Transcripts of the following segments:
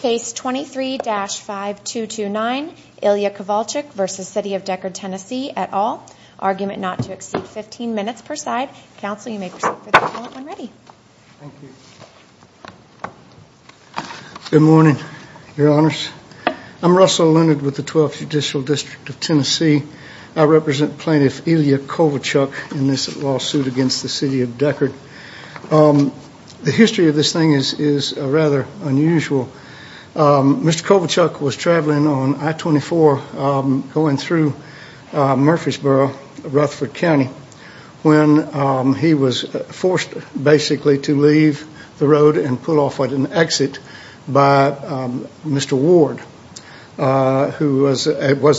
Case 23-5229, Ilya Kovalchuk v. City of Decherd, TN, et al. Argument not to exceed 15 minutes per side. Counsel, you may proceed for the call when ready. Good morning, Your Honors. I'm Russell Leonard with the Twelfth Judicial District of Tennessee. I represent Plaintiff Ilya Kovalchuk in this lawsuit against the City of Decherd. The history of this thing is rather unusual. Mr. Kovalchuk was traveling on I-24 going through Murfreesboro, Rutherford County when he was forced basically to leave the road and pull off at an exit by Mr. Ward, who was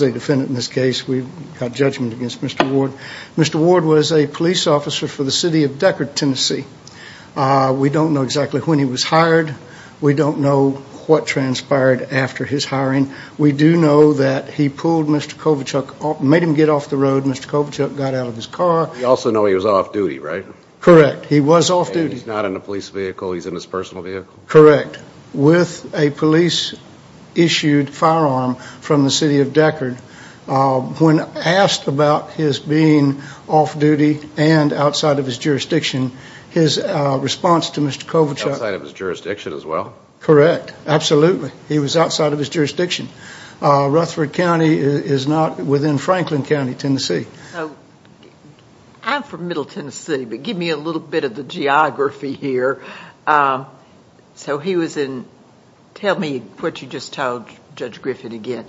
a defendant in this case. We've got judgment against Mr. Ward. Mr. Ward was a police officer for the City of Decherd, Tennessee. We don't know exactly when he was hired. We don't know what transpired after his hiring. We do know that he pulled Mr. Kovalchuk, made him get off the road. Mr. Kovalchuk got out of his car. We also know he was off-duty, right? Correct. He was off-duty. And he's not in a police vehicle. He's in his personal vehicle? Correct. With a police-issued firearm from the City of Decherd. When asked about his being off-duty and outside of his jurisdiction, his response to Mr. Kovalchuk... Outside of his jurisdiction as well? Correct. Absolutely. He was outside of his jurisdiction. Rutherford County is not within Franklin County, Tennessee. I'm from Middle Tennessee, but give me a little bit of the geography here. So he was in... Tell me what you just told Judge Griffin again.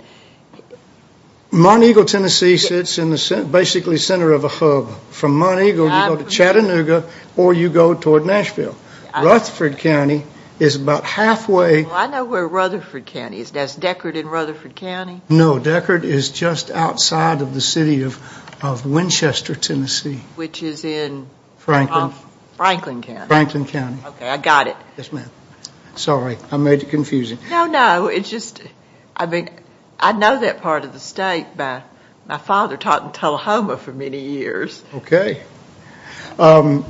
Montego, Tennessee sits in the basically center of a hub. From Monego, you go to Chattanooga, or you go toward Nashville. Rutherford County is about halfway... I know where Rutherford County is. Is Decherd in Rutherford County? No. Decherd is just outside of the City of Winchester, Tennessee. Which is in... Franklin. Franklin County. Franklin County. Okay. I got it. Yes, ma'am. Sorry. I made it confusing. No, no. It's just... I mean, I know that part of the state. My father taught in Tullahoma for many years. Okay. Mr.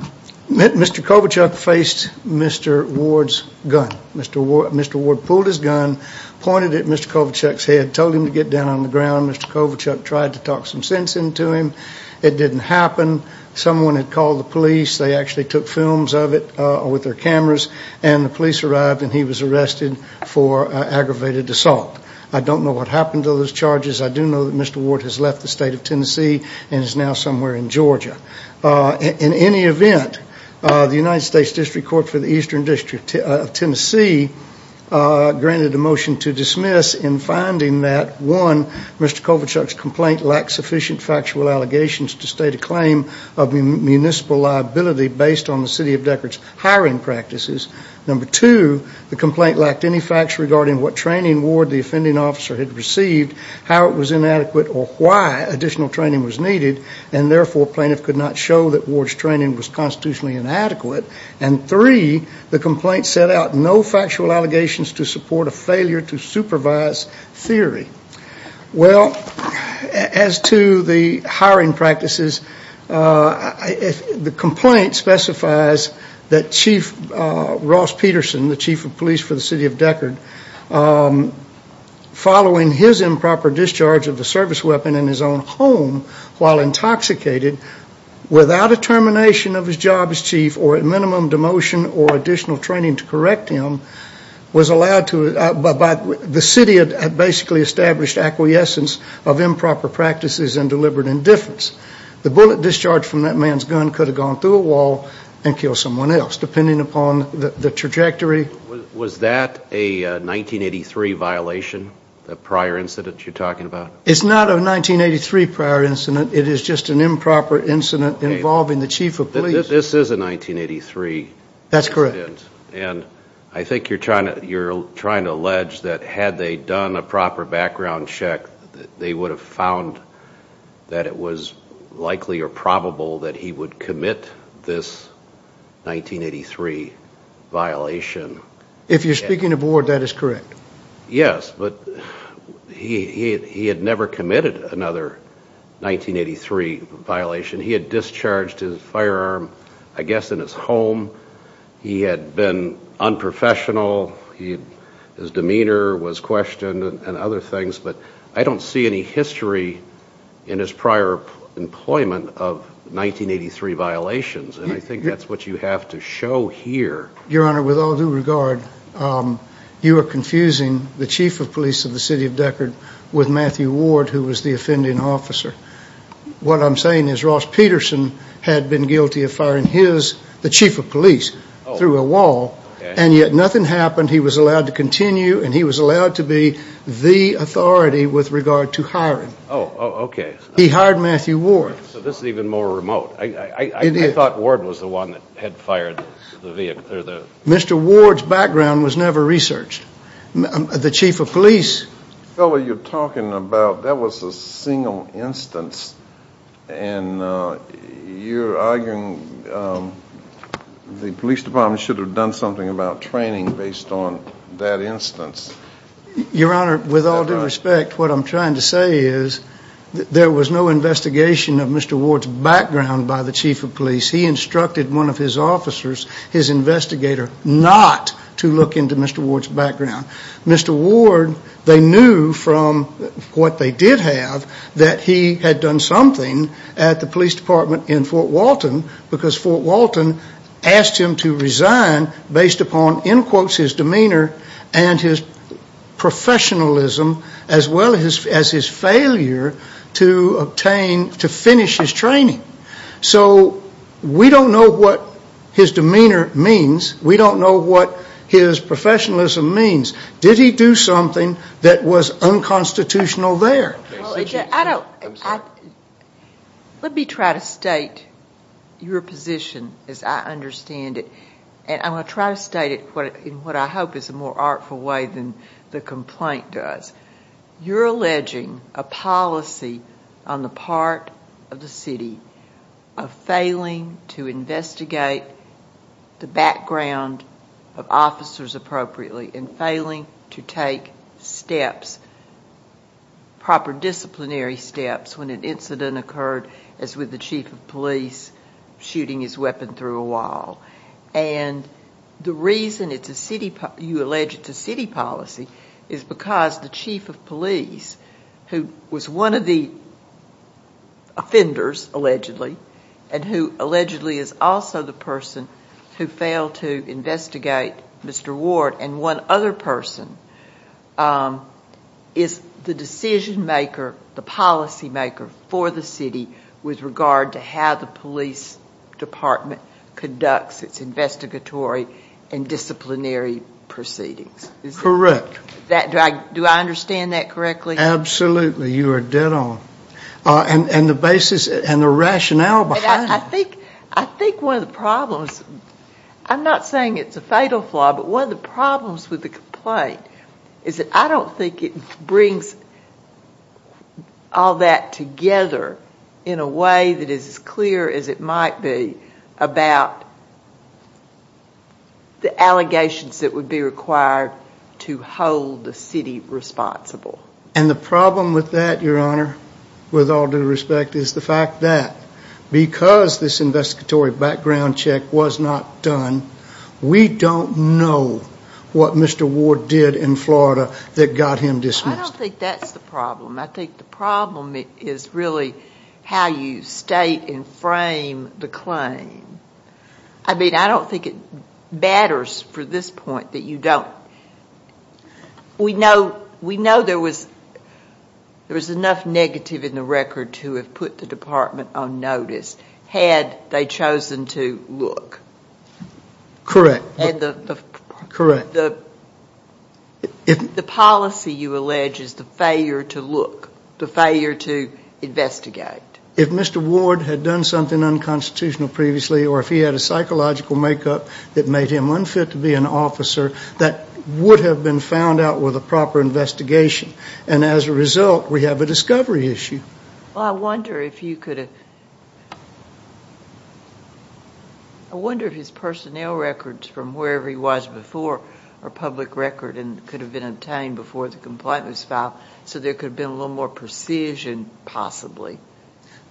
Kovalchuk faced Mr. Ward's gun. Mr. Ward pulled his gun, pointed it at Mr. Kovalchuk's head, told him to get down on the ground. Mr. Kovalchuk tried to talk some sense into him. It didn't happen. Someone had called the police. They actually took films of it with their cameras. And the police arrived and he was arrested for aggravated assault. I don't know what happened to those charges. I do know that Mr. Ward has left the state of Tennessee and is now somewhere in Georgia. In any event, the United States District Court for the Eastern District of Tennessee granted a motion to dismiss in finding that, one, Mr. Kovalchuk's complaint lacked sufficient factual allegations to state a claim of municipal liability based on the City of Deckard's hiring practices. Number two, the complaint lacked any facts regarding what training Ward, the offending officer, had received, how it was inadequate, or why additional training was needed. And therefore, plaintiff could not show that Ward's training was constitutionally inadequate. And three, the complaint set out no factual allegations to support a failure to supervise theory. Well, as to the hiring practices, the complaint specifies that Chief Ross Peterson, the Chief of Police for the City of Deckard, following his improper discharge of a service weapon in his own home while intoxicated, without a termination of his job as Chief, or at minimum demotion or additional training to correct him, was allowed to, by the City had basically established acquiescence of improper practices and deliberate indifference. The bullet discharged from that man's gun could have gone through a wall and killed someone else, depending upon the trajectory. Was that a 1983 violation, the prior incident you're talking about? It's not a 1983 prior incident, it is just an improper incident involving the Chief of Police. This is a 1983 incident. That's correct. And I think you're trying to allege that had they done a proper background check, they would have found that it was likely or probable that he would commit this 1983 violation. If you're speaking of Ward, that is correct. Yes, but he had never committed another 1983 violation. He had discharged his firearm, I guess, in his home. He had been unprofessional. His demeanor was questioned and other things, but I don't see any history in his prior employment of 1983 violations, and I think that's what you have to show here. Your Honor, with all due regard, you are confusing the Chief of Police of the City of Deckard with Matthew Ward, who was the offending officer. What I'm saying is Ross Peterson had been guilty of firing the Chief of Police through a wall, and yet nothing happened. He was allowed to continue, and he was allowed to be the authority with regard to hiring. Oh, okay. He hired Matthew Ward. So this is even more remote. I thought Ward was the one that had fired the vehicle. Mr. Ward's background was never researched. The Chief of Police— Fellow, you're talking about—that was a single instance, and you're arguing the police department should have done something about training based on that instance. Your Honor, with all due respect, what I'm trying to say is there was no investigation of Mr. Ward's background by the Chief of Police. He instructed one of his officers, his investigator, not to look into Mr. Ward's background. Mr. Ward, they knew from what they did have that he had done something at the police department in Fort Walton because Fort Walton asked him to resign based upon, in quotes, his demeanor and his professionalism as well as his failure to obtain—to finish his training. So we don't know what his demeanor means. We don't know what his professionalism means. Did he do something that was unconstitutional there? Let me try to state your position as I understand it, and I'm going to try to state it in what I hope is a more artful way than the complaint does. You're alleging a policy on the part of the city of failing to investigate the background of officers appropriately and failing to take steps, proper disciplinary steps, when an incident occurred as with the Chief of Police shooting his weapon through a wall. And the reason it's a city—you allege it's a city policy is because the Chief of Police, who was one of the offenders, allegedly, and who allegedly is also the person who failed to investigate Mr. Ward and one other person, is the decision-maker, the policy-maker for the city with regard to how the police department conducts its investigatory and disciplinary proceedings. Correct. Do I understand that correctly? Absolutely. You are dead on. And the basis and the rationale behind— I think one of the problems—I'm not saying it's a fatal flaw, but one of the problems with the complaint is that I don't think it brings all that together in a way that is as clear as it might be about the allegations that would be required to hold the city responsible. And the problem with that, Your Honor, with all due respect, is the fact that because this investigatory background check was not done, we don't know what Mr. Ward did in Florida that got him dismissed. I don't think that's the problem. I think the problem is really how you state and frame the claim. I mean, I don't think it matters for this point that you don't— We know there was enough negative in the record to have put the department on notice had they chosen to look. Correct. The policy, you allege, is the failure to look, the failure to investigate. If Mr. Ward had done something unconstitutional previously or if he had a psychological makeup that made him unfit to be an officer, that would have been found out with a proper investigation. And as a result, we have a discovery issue. Well, I wonder if you could—I wonder if his personnel records from wherever he was before are public record and could have been obtained before the complaint was filed so there could have been a little more precision possibly.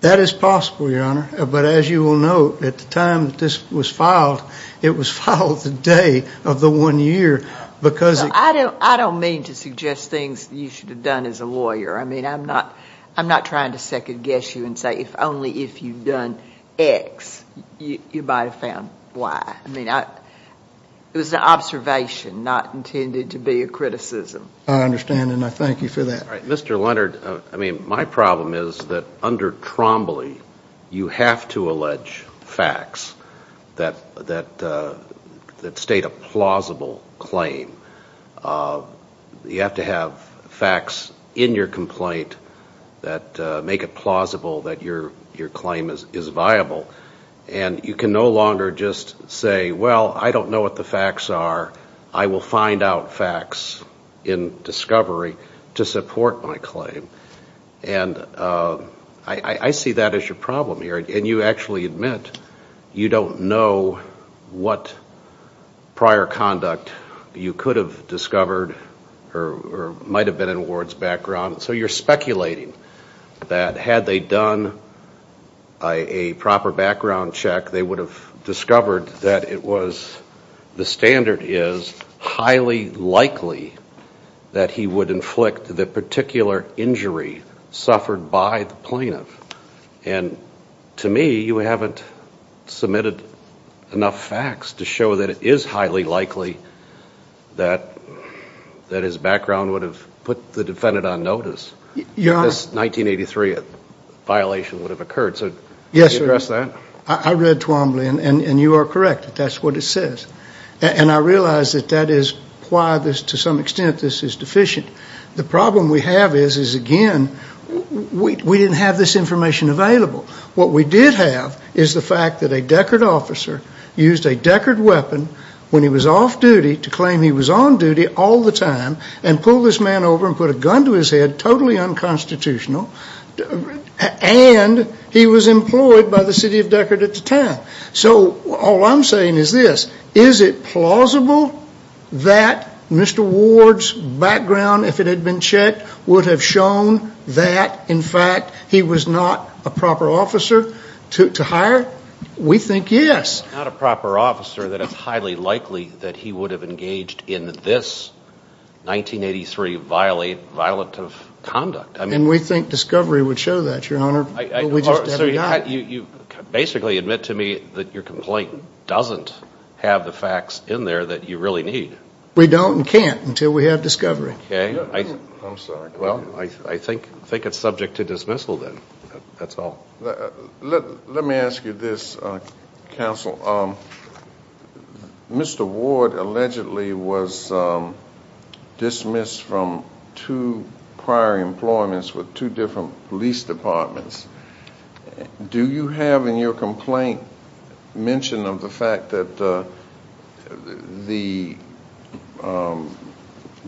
That is possible, Your Honor. But as you will note, at the time this was filed, it was filed the day of the one year because— I don't mean to suggest things you should have done as a lawyer. I mean, I'm not trying to second-guess you and say if only if you'd done X, you might have found Y. I mean, it was an observation, not intended to be a criticism. I understand, and I thank you for that. Mr. Leonard, I mean, my problem is that under Trombley, you have to allege facts that state a plausible claim. You have to have facts in your complaint that make it plausible that your claim is viable. And you can no longer just say, well, I don't know what the facts are. I will find out facts in discovery to support my claim. And I see that as your problem here. And you actually admit you don't know what prior conduct you could have discovered or might have been in Ward's background. So you're speculating that had they done a proper background check, they would have discovered that it was—the standard is highly likely that he would inflict the particular injury suffered by the plaintiff. And to me, you haven't submitted enough facts to show that it is highly likely that his background would have put the defendant on notice. Your Honor— This 1983 violation would have occurred. So can you address that? I read Trombley, and you are correct. That's what it says. And I realize that that is why, to some extent, this is deficient. The problem we have is, again, we didn't have this information available. What we did have is the fact that a Deckard officer used a Deckard weapon when he was off duty to claim he was on duty all the time and pulled this man over and put a gun to his head, totally unconstitutional, and he was employed by the city of Deckard at the time. So all I'm saying is this. Is it plausible that Mr. Ward's background, if it had been checked, would have shown that, in fact, he was not a proper officer to hire? We think yes. Not a proper officer, that it's highly likely that he would have engaged in this 1983 violative conduct. And we think discovery would show that, Your Honor, but we just have not. So you basically admit to me that your complaint doesn't have the facts in there that you really need? We don't and can't until we have discovery. Okay. I'm sorry. Well, I think it's subject to dismissal, then. That's all. Let me ask you this, Counsel. Counsel, Mr. Ward allegedly was dismissed from two prior employments with two different police departments. Do you have in your complaint mention of the fact that the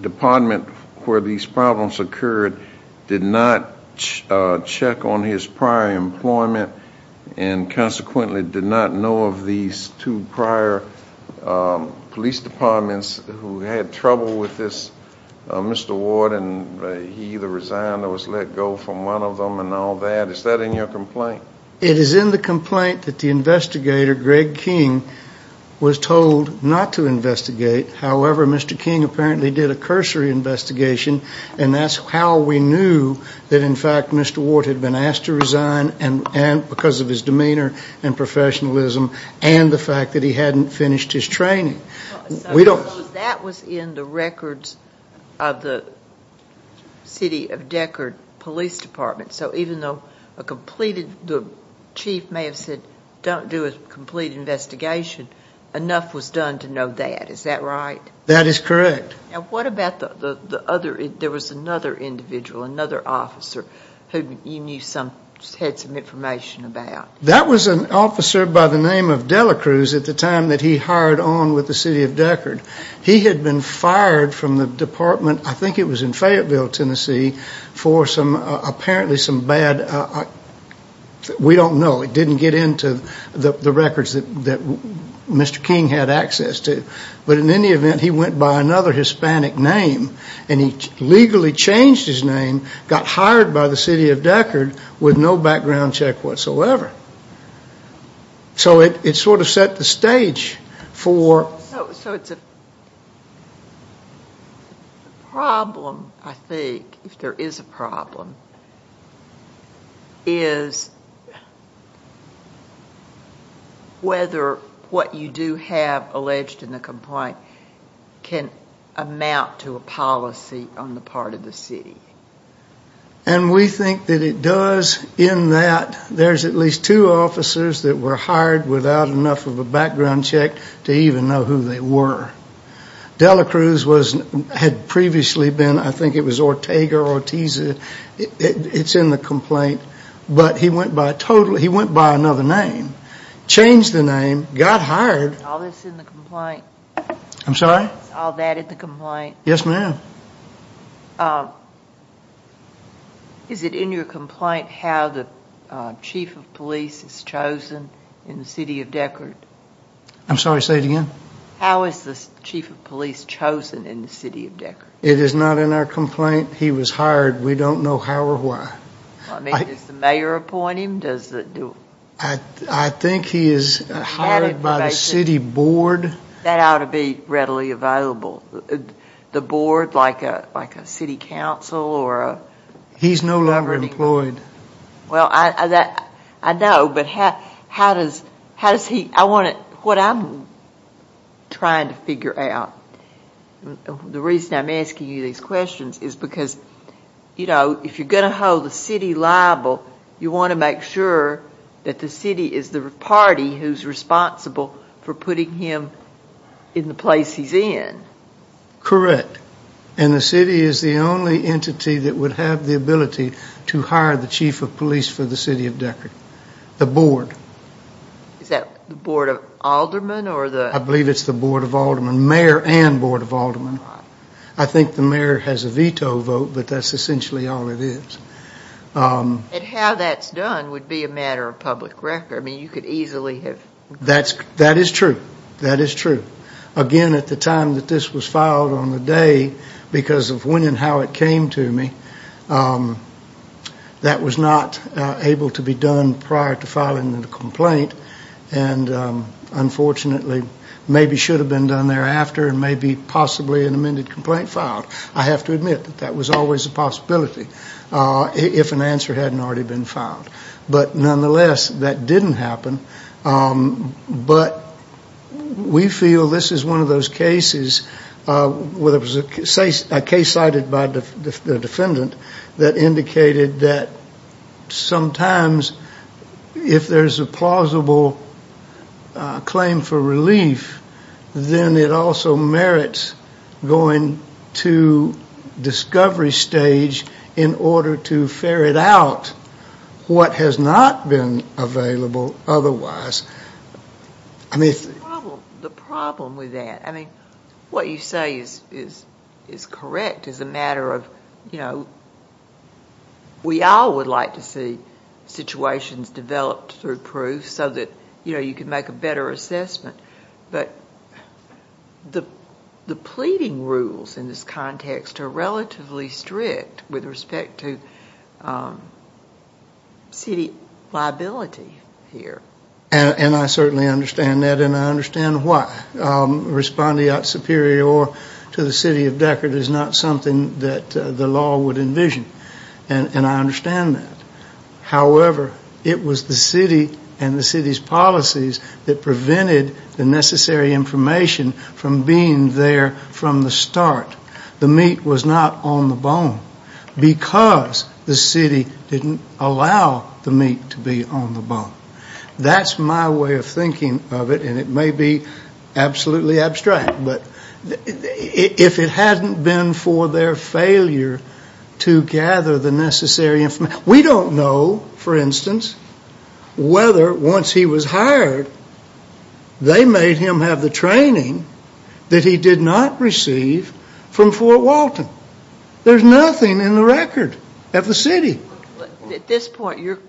department where these problems occurred did not check on his prior employment and consequently did not know of these two prior police departments who had trouble with this Mr. Ward and he either resigned or was let go from one of them and all that? Is that in your complaint? It is in the complaint that the investigator, Greg King, was told not to investigate. However, Mr. King apparently did a cursory investigation and that's how we knew that in fact Mr. Ward had been asked to resign because of his demeanor and professionalism and the fact that he hadn't finished his training. That was in the records of the City of Deckard Police Department. So even though the chief may have said don't do a complete investigation, enough was done to know that. Is that right? That is correct. And what about the other, there was another individual, another officer who you knew some, had some information about? That was an officer by the name of Delacruz at the time that he hired on with the City of Deckard. He had been fired from the department, I think it was in Fayetteville, Tennessee, for some apparently some bad, we don't know, it didn't get into the records that Mr. King had access to. But in any event, he went by another Hispanic name and he legally changed his name, got hired by the City of Deckard with no background check whatsoever. So it sort of set the stage for... So it's a problem I think, if there is a problem, is whether what you do have alleged in the complaint can amount to a policy on the part of the city. And we think that it does in that there's at least two officers that were hired without enough of a background check to even know who they were. Delacruz had previously been, I think it was Ortega or Ortiz, it's in the complaint, but he went by another name, changed the name, got hired. All this in the complaint? I'm sorry? All that in the complaint? Yes, ma'am. Is it in your complaint how the chief of police is chosen in the City of Deckard? I'm sorry, say it again. How is the chief of police chosen in the City of Deckard? It is not in our complaint. He was hired. We don't know how or why. I mean, does the mayor appoint him? Does the... I think he is hired by the city board. That ought to be readily available. The board, like a city council or... He's no longer employed. Well, I know, but how does he... I want to... What I'm trying to figure out, the reason I'm asking you these questions is because, you know, if you're going to hold the city liable, you want to make sure that the city is the party who's responsible for putting him in the place he's in. Correct. And the city is the only entity that would have the ability to hire the chief of police for the City of Deckard. The board. Is that the board of aldermen or the... I believe it's the board of aldermen, mayor and board of aldermen. I think the mayor has a veto vote, but that's essentially all it is. And how that's done would be a matter of public record. I mean, you could easily have... That is true. That is true. Again, at the time that this was filed on the day, because of when and how it came to me, that was not able to be done prior to filing the complaint. And unfortunately, maybe should have been done thereafter and maybe possibly an amended complaint filed. I have to admit that that was always a possibility, if an answer hadn't already been filed. But nonetheless, that didn't happen. But we feel this is one of those cases, whether it was a case cited by the defendant, that indicated that sometimes if there's a plausible claim for relief, then it also merits going to discovery stage in order to ferret out what has not been available. Otherwise, I mean... The problem with that, I mean, what you say is correct. It's a matter of, you know, we all would like to see situations developed through proof so that, you know, you can make a better assessment. But the pleading rules in this context are relatively strict with respect to city liability here. And I certainly understand that, and I understand why. Responding out superior to the city of Deckard is not something that the law would envision. And I understand that. However, it was the city and the city's policies that prevented the necessary information from being there from the start. The meat was not on the bone because the city didn't allow the meat to be on the bone. That's my way of thinking of it, and it may be absolutely abstract. But if it hadn't been for their failure to gather the necessary information... We don't know, for instance, whether once he was hired, they made him have the training that he did not receive from Fort Walton. There's nothing in the record of the city. At this point,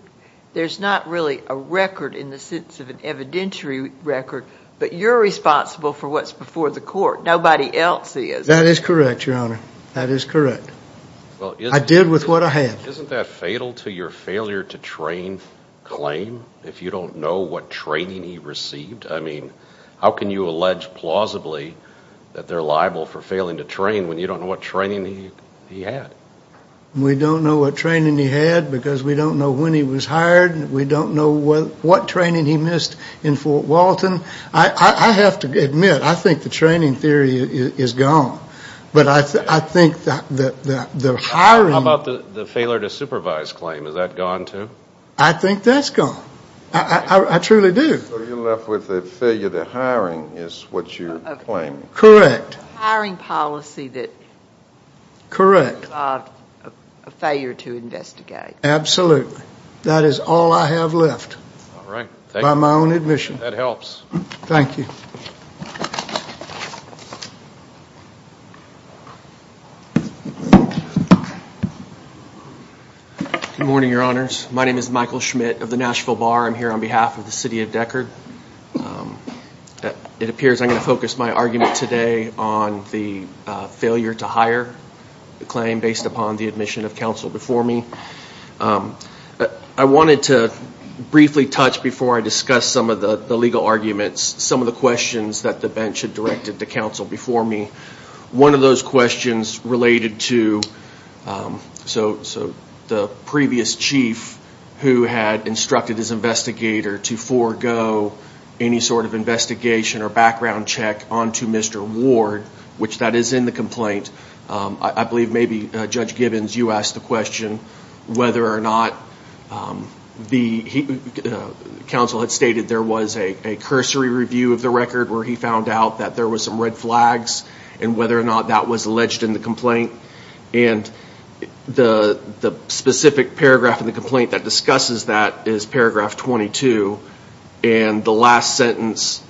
there's not really a record in the sense of an evidentiary record, but you're responsible for what's before the court. Nobody else is. That is correct, Your Honor. That is correct. I did with what I had. Isn't that fatal to your failure to train claim if you don't know what training he received? I mean, how can you allege plausibly that they're liable for failing to train when you don't know what training he had? We don't know what training he had because we don't know when he was hired, and we don't know what training he missed in Fort Walton. I have to admit, I think the training theory is gone. But I think that the hiring... How about the failure to supervise claim? Is that gone, too? I think that's gone. I truly do. So you're left with the failure to hiring is what you're claiming. Correct. Hiring policy that... Correct. A failure to investigate. Absolutely. That is all I have left by my own admission. That helps. Thank you. Good morning, Your Honors. My name is Michael Schmidt of the Nashville Bar. I'm here on behalf of the City of Deckard. It appears I'm going to focus my argument today on the failure to hire the claim based upon the admission of counsel before me. I wanted to briefly touch, before I discuss some of the legal arguments, some of the questions that the bench had directed to counsel before me. One of those questions related to the previous chief who had instructed his investigator to forego any sort of investigation or background check onto Mr. Ward, which that is in the complaint. I believe maybe, Judge Gibbons, you asked the question whether or not the counsel had stated there was a cursory review of the record where he found out that there was some red flags and whether or not that was alleged in the complaint. And the specific paragraph in the complaint that discusses that is paragraph 22. And the last sentence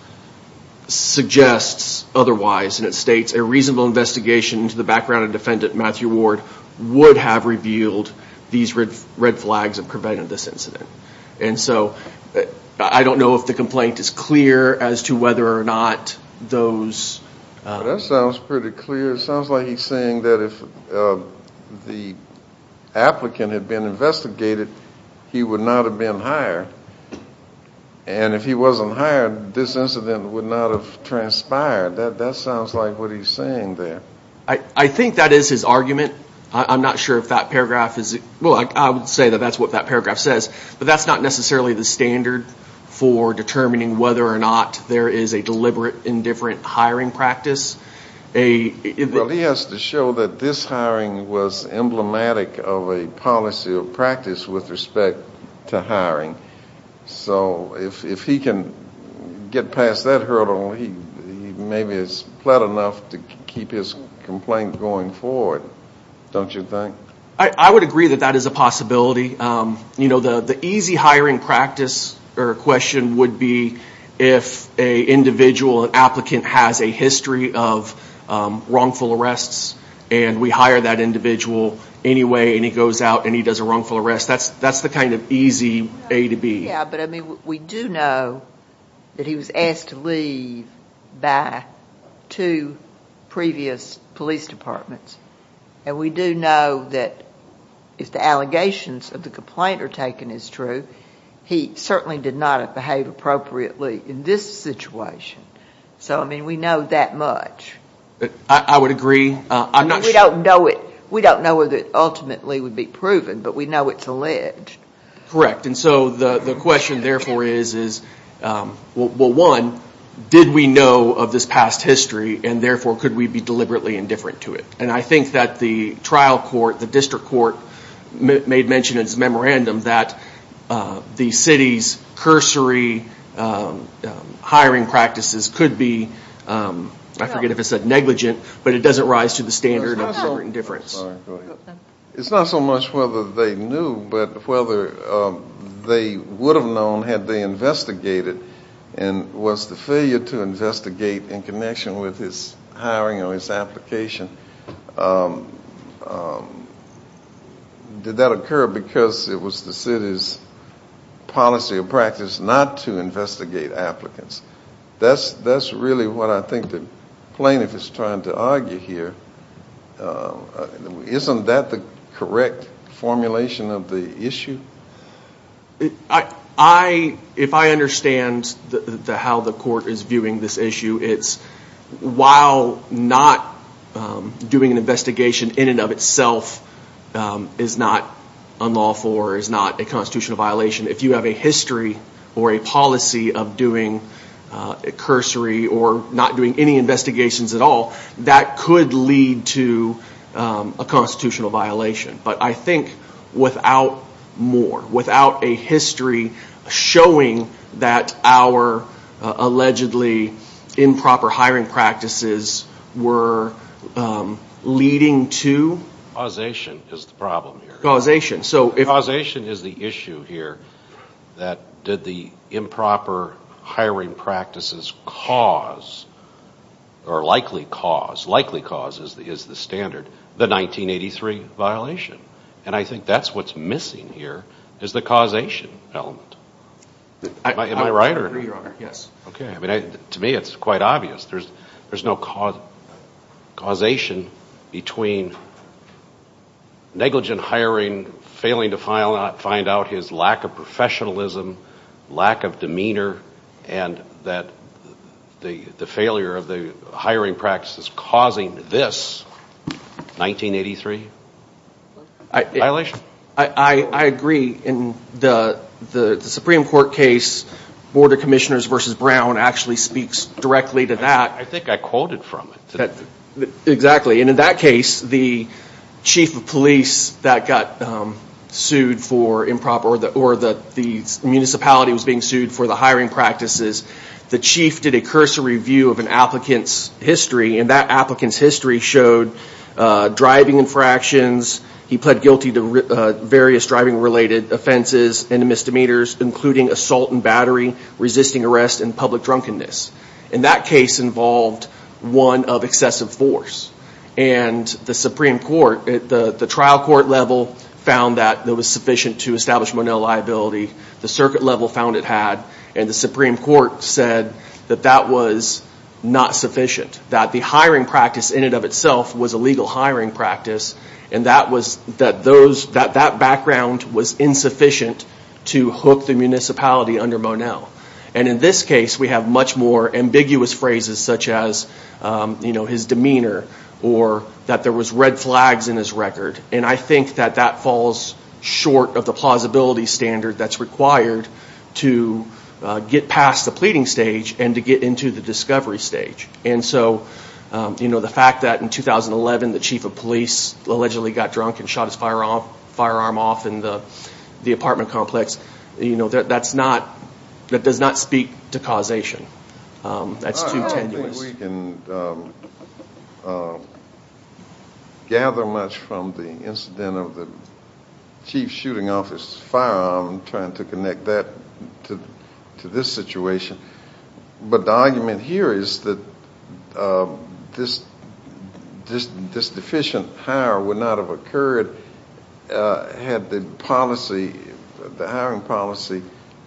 suggests otherwise. And it states, a reasonable investigation into the background of defendant Matthew Ward would have revealed these red flags and prevented this incident. And so, I don't know if the complaint is clear as to whether or not those... That sounds pretty clear. It sounds like he's saying that if the applicant had been investigated, he would not have been hired. And if he wasn't hired, this incident would not have transpired. That sounds like what he's saying there. I think that is his argument. I'm not sure if that paragraph is... Well, I would say that that's what that paragraph says. But that's not necessarily the standard for determining whether or not there is a deliberate indifferent hiring practice. Well, he has to show that this hiring was emblematic of a policy or practice with respect to hiring. So, if he can get past that hurdle, he maybe has pled enough to keep his complaint going forward, don't you think? I would agree that that is a possibility. You know, the easy hiring practice or question would be if an individual, an applicant has a history of wrongful arrests and we hire that individual anyway and he goes out and he does a wrongful arrest. That's the kind of easy A to B. Yeah, but I mean, we do know that he was asked to leave by two previous police departments. And we do know that if the allegations of the complaint are taken as true, he certainly did not behave appropriately in this situation. So, I mean, we know that much. I would agree. We don't know whether it ultimately would be proven, but we know it's alleged. Correct. And so, the question therefore is, well, one, did we know of this past history and therefore could we be deliberately indifferent to it? And I think that the trial court, the district court, made mention in its memorandum that the city's cursory hiring practices could be, I forget if I said negligent, but it doesn't rise to the standard of separate indifference. It's not so much whether they knew, but whether they would have known had they investigated and was the failure to investigate in connection with his hiring or his application, did that occur because it was the city's policy or practice not to investigate applicants? That's really what I think the plaintiff is trying to argue here. Isn't that the correct formulation of the issue? If I understand how the court is viewing this issue, it's while not doing an investigation in and of itself is not unlawful or is not a constitutional violation, if you have a history or a policy of doing a cursory or not doing any investigations at all, that could lead to a constitutional violation. But I think without more, without a history showing that our allegedly improper hiring practices were leading to... Causation is the problem here. Causation, so if... Causation is the issue here that did the improper hiring practices cause or likely cause, likely cause is the standard, the 1983 violation. And I think that's what's missing here is the causation element. Am I right? I agree, Your Honor, yes. Okay, I mean, to me it's quite obvious. There's no causation between negligent hiring, failing to find out his lack of professionalism, lack of demeanor, and that the failure of the hiring practice is causing this 1983 violation? I agree. In the Supreme Court case, Board of Commissioners v. Brown actually speaks directly to that. I think I quoted from it. Exactly. And in that case, the chief of police that got sued for improper... Or the municipality was being sued for the hiring practices, the chief did a cursory review of an applicant's history and that applicant's history showed driving infractions, he pled guilty to various driving-related offenses and misdemeanors, including assault and battery, resisting arrest, and public drunkenness. And that case involved one of excessive force. And the Supreme Court, the trial court level, found that it was sufficient to establish Monell liability. The circuit level found it had. And the Supreme Court said that that was not sufficient, that the hiring practice in and of itself was a legal hiring practice and that background was insufficient to hook the municipality under Monell. And in this case, we have much more ambiguous phrases such as his demeanor or that there was red flags in his record. And I think that that falls short of the plausibility standard that's required to get past the pleading stage and to get into the discovery stage. And so, you know, the fact that in 2011 the chief of police allegedly got drunk and shot his firearm off in the apartment complex, you know, that's not, that does not speak to causation. That's too tenuous. I don't think we can gather much from the incident of the chief's shooting off his firearm trying to connect that to this situation. But the argument here is that this deficient hire would not have occurred had the policy, the hiring policy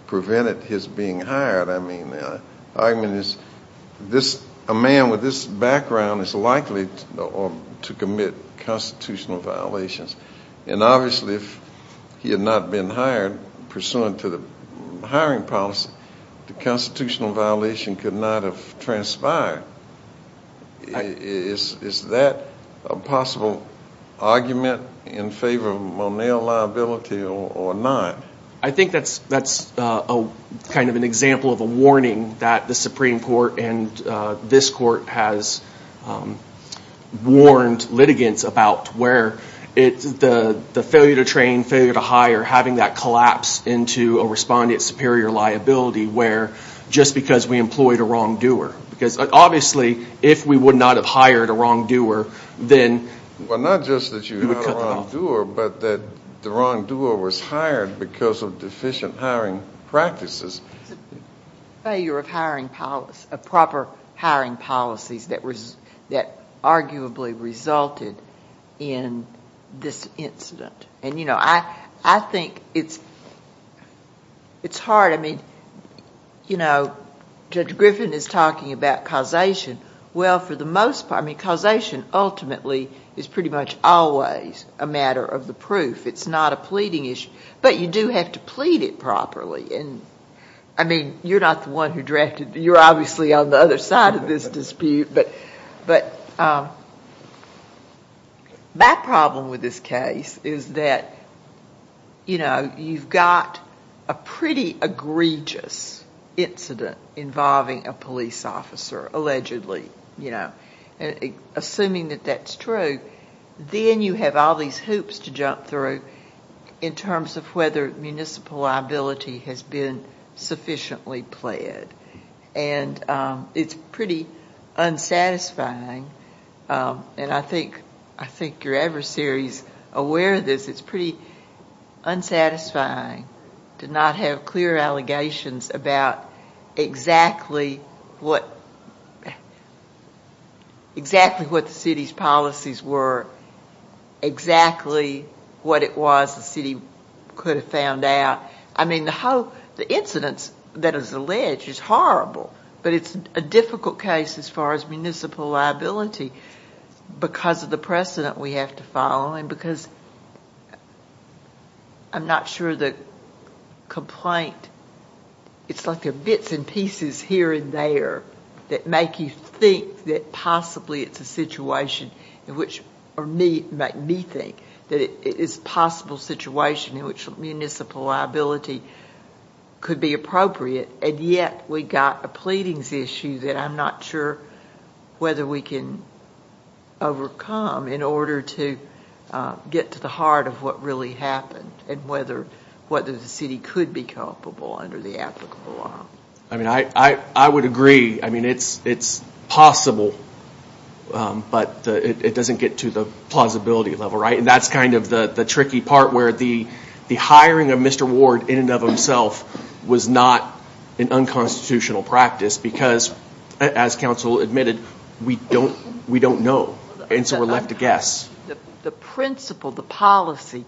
prevented his being hired. I mean, the argument is this, a man with this background is likely to commit constitutional violations. And obviously, if he had not been hired pursuant to the hiring policy, the constitutional violation could not have transpired. Is that a possible argument in favor of Monell liability or not? I think that's kind of an example of a warning that the Supreme Court and this court has warned litigants about where the failure to train, failure to hire, having that collapse into a respondent's superior liability where just because we employed a wrongdoer. Because obviously, if we would not have hired a wrongdoer, then we would cut them off. Well, not just that you hired a wrongdoer, but that the wrongdoer was hired because of deficient hiring practices. Failure of hiring policy, of proper hiring policies that arguably resulted in this incident. And, you know, I think it's hard. I mean, you know, Judge Griffin is talking about causation. Well, for the most part, I mean, causation ultimately is pretty much always a matter of the proof. It's not a pleading issue. But you do have to plead it properly. And, I mean, you're not the one who drafted. You're obviously on the other side of this dispute. But my problem with this case is that, you know, you've got a pretty egregious incident involving a police officer, allegedly, you know, assuming that that's true. Then you have all these hoops to jump through in terms of whether municipal liability has been sufficiently pled. And it's pretty unsatisfying. And I think you're ever serious aware of this. It's pretty unsatisfying to not have clear allegations about exactly what the city's policies were, exactly what it was the city could have found out. I mean, the whole, the incidents that is alleged is horrible. But it's a difficult case as far as municipal liability because of the precedent we have to follow. And because I'm not sure the complaint, it's like there are bits and pieces here and there that make you think that possibly it's a situation in which, or me, make me think that it is a possible situation in which municipal liability could be appropriate. And yet we got a pleadings issue that I'm not sure whether we can overcome in order to get to the heart of what really happened and whether the city could be culpable under the applicable law. I mean, I would agree. I mean, it's possible. But it doesn't get to the plausibility level, right? And that's kind of the tricky part where the hiring of Mr. Ward in and of himself was not an unconstitutional practice because, as counsel admitted, we don't know. And so we're left to guess. The principle, the policy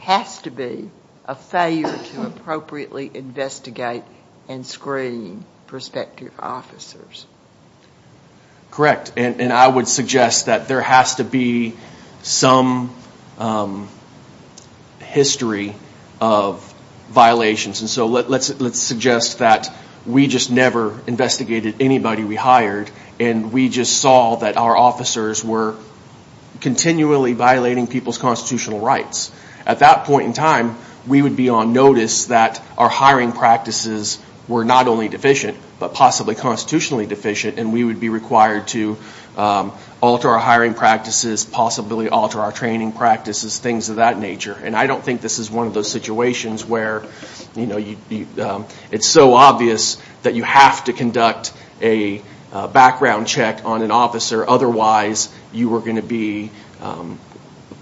has to be a failure to appropriately investigate and screen prospective officers. Correct. And I would suggest that there has to be some history of violations. And so let's suggest that we just never investigated anybody we hired and we just saw that our officers were continually violating people's constitutional rights. At that point in time, we would be on notice that our hiring practices were not only deficient but possibly constitutionally deficient and we would be required to alter our hiring practices, possibly alter our training practices, things of that nature. And I don't think this is one of those situations where it's so obvious that you have to conduct a background check on an officer. Otherwise, you are going to be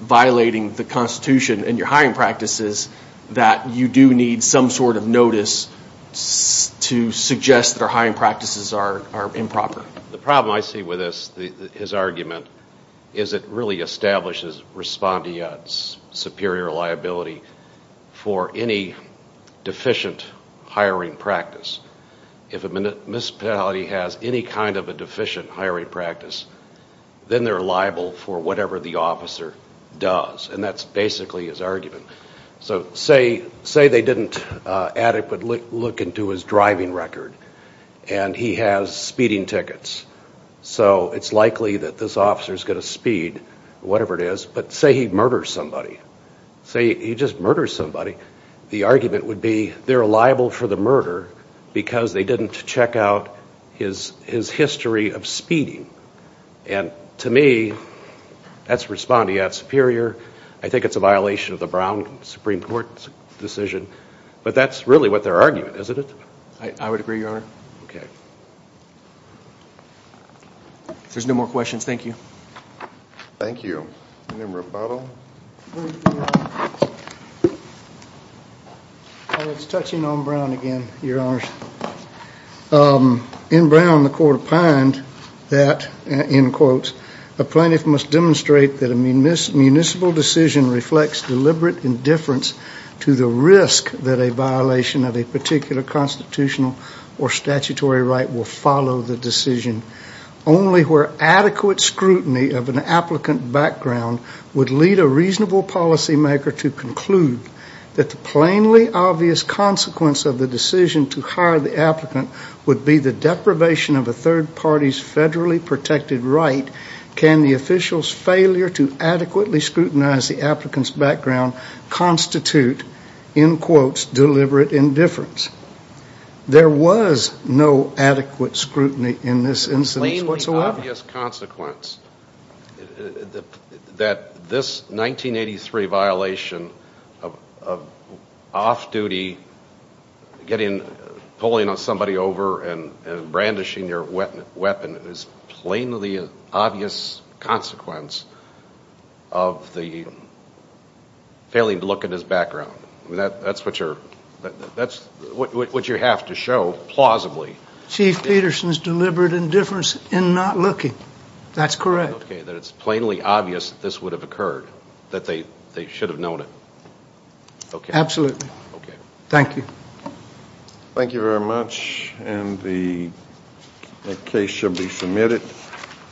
violating the Constitution and your hiring practices that you do need some sort of notice to suggest that our hiring practices are improper. The problem I see with this, his argument, is it really establishes respondeats' superior liability for any deficient hiring practice. If a municipality has any kind of a deficient hiring practice, then they're liable for whatever the officer does. And that's basically his argument. So say they didn't adequately look into his driving record and he has speeding tickets. So it's likely that this officer is going to speed, whatever it is. But say he murders somebody. Say he just murders somebody, the argument would be they're liable for the murder because they didn't check out his history of speeding. And to me, that's respondeat superior. I think it's a violation of the Brown Supreme Court's decision. But that's really what they're arguing, isn't it? I would agree, Your Honor. Okay. If there's no more questions, thank you. Thank you. Madam Rapato? It's touching on Brown again, Your Honors. In Brown, the court opined that, in quotes, a plaintiff must demonstrate that a municipal decision reflects deliberate indifference to the risk that a violation of a particular constitutional or statutory right will follow the decision. Only where adequate scrutiny of an applicant background would lead a reasonable policymaker to conclude that the plainly obvious consequence of the decision to hire the applicant would be the deprivation of a third party's federally protected right, can the official's failure to adequately scrutinize the applicant's background constitute, in quotes, deliberate indifference. There was no adequate scrutiny in this instance whatsoever. Plainly obvious consequence that this 1983 violation of off-duty pulling on somebody over and brandishing your weapon is plainly an obvious consequence of the failing to look at his background. That's what you have to show, plausibly. Chief Peterson's deliberate indifference in not looking. That's correct. Okay. That it's plainly obvious that this would have occurred, that they should have known it. Okay. Absolutely. Okay. Thank you. Thank you very much. And the case shall be submitted.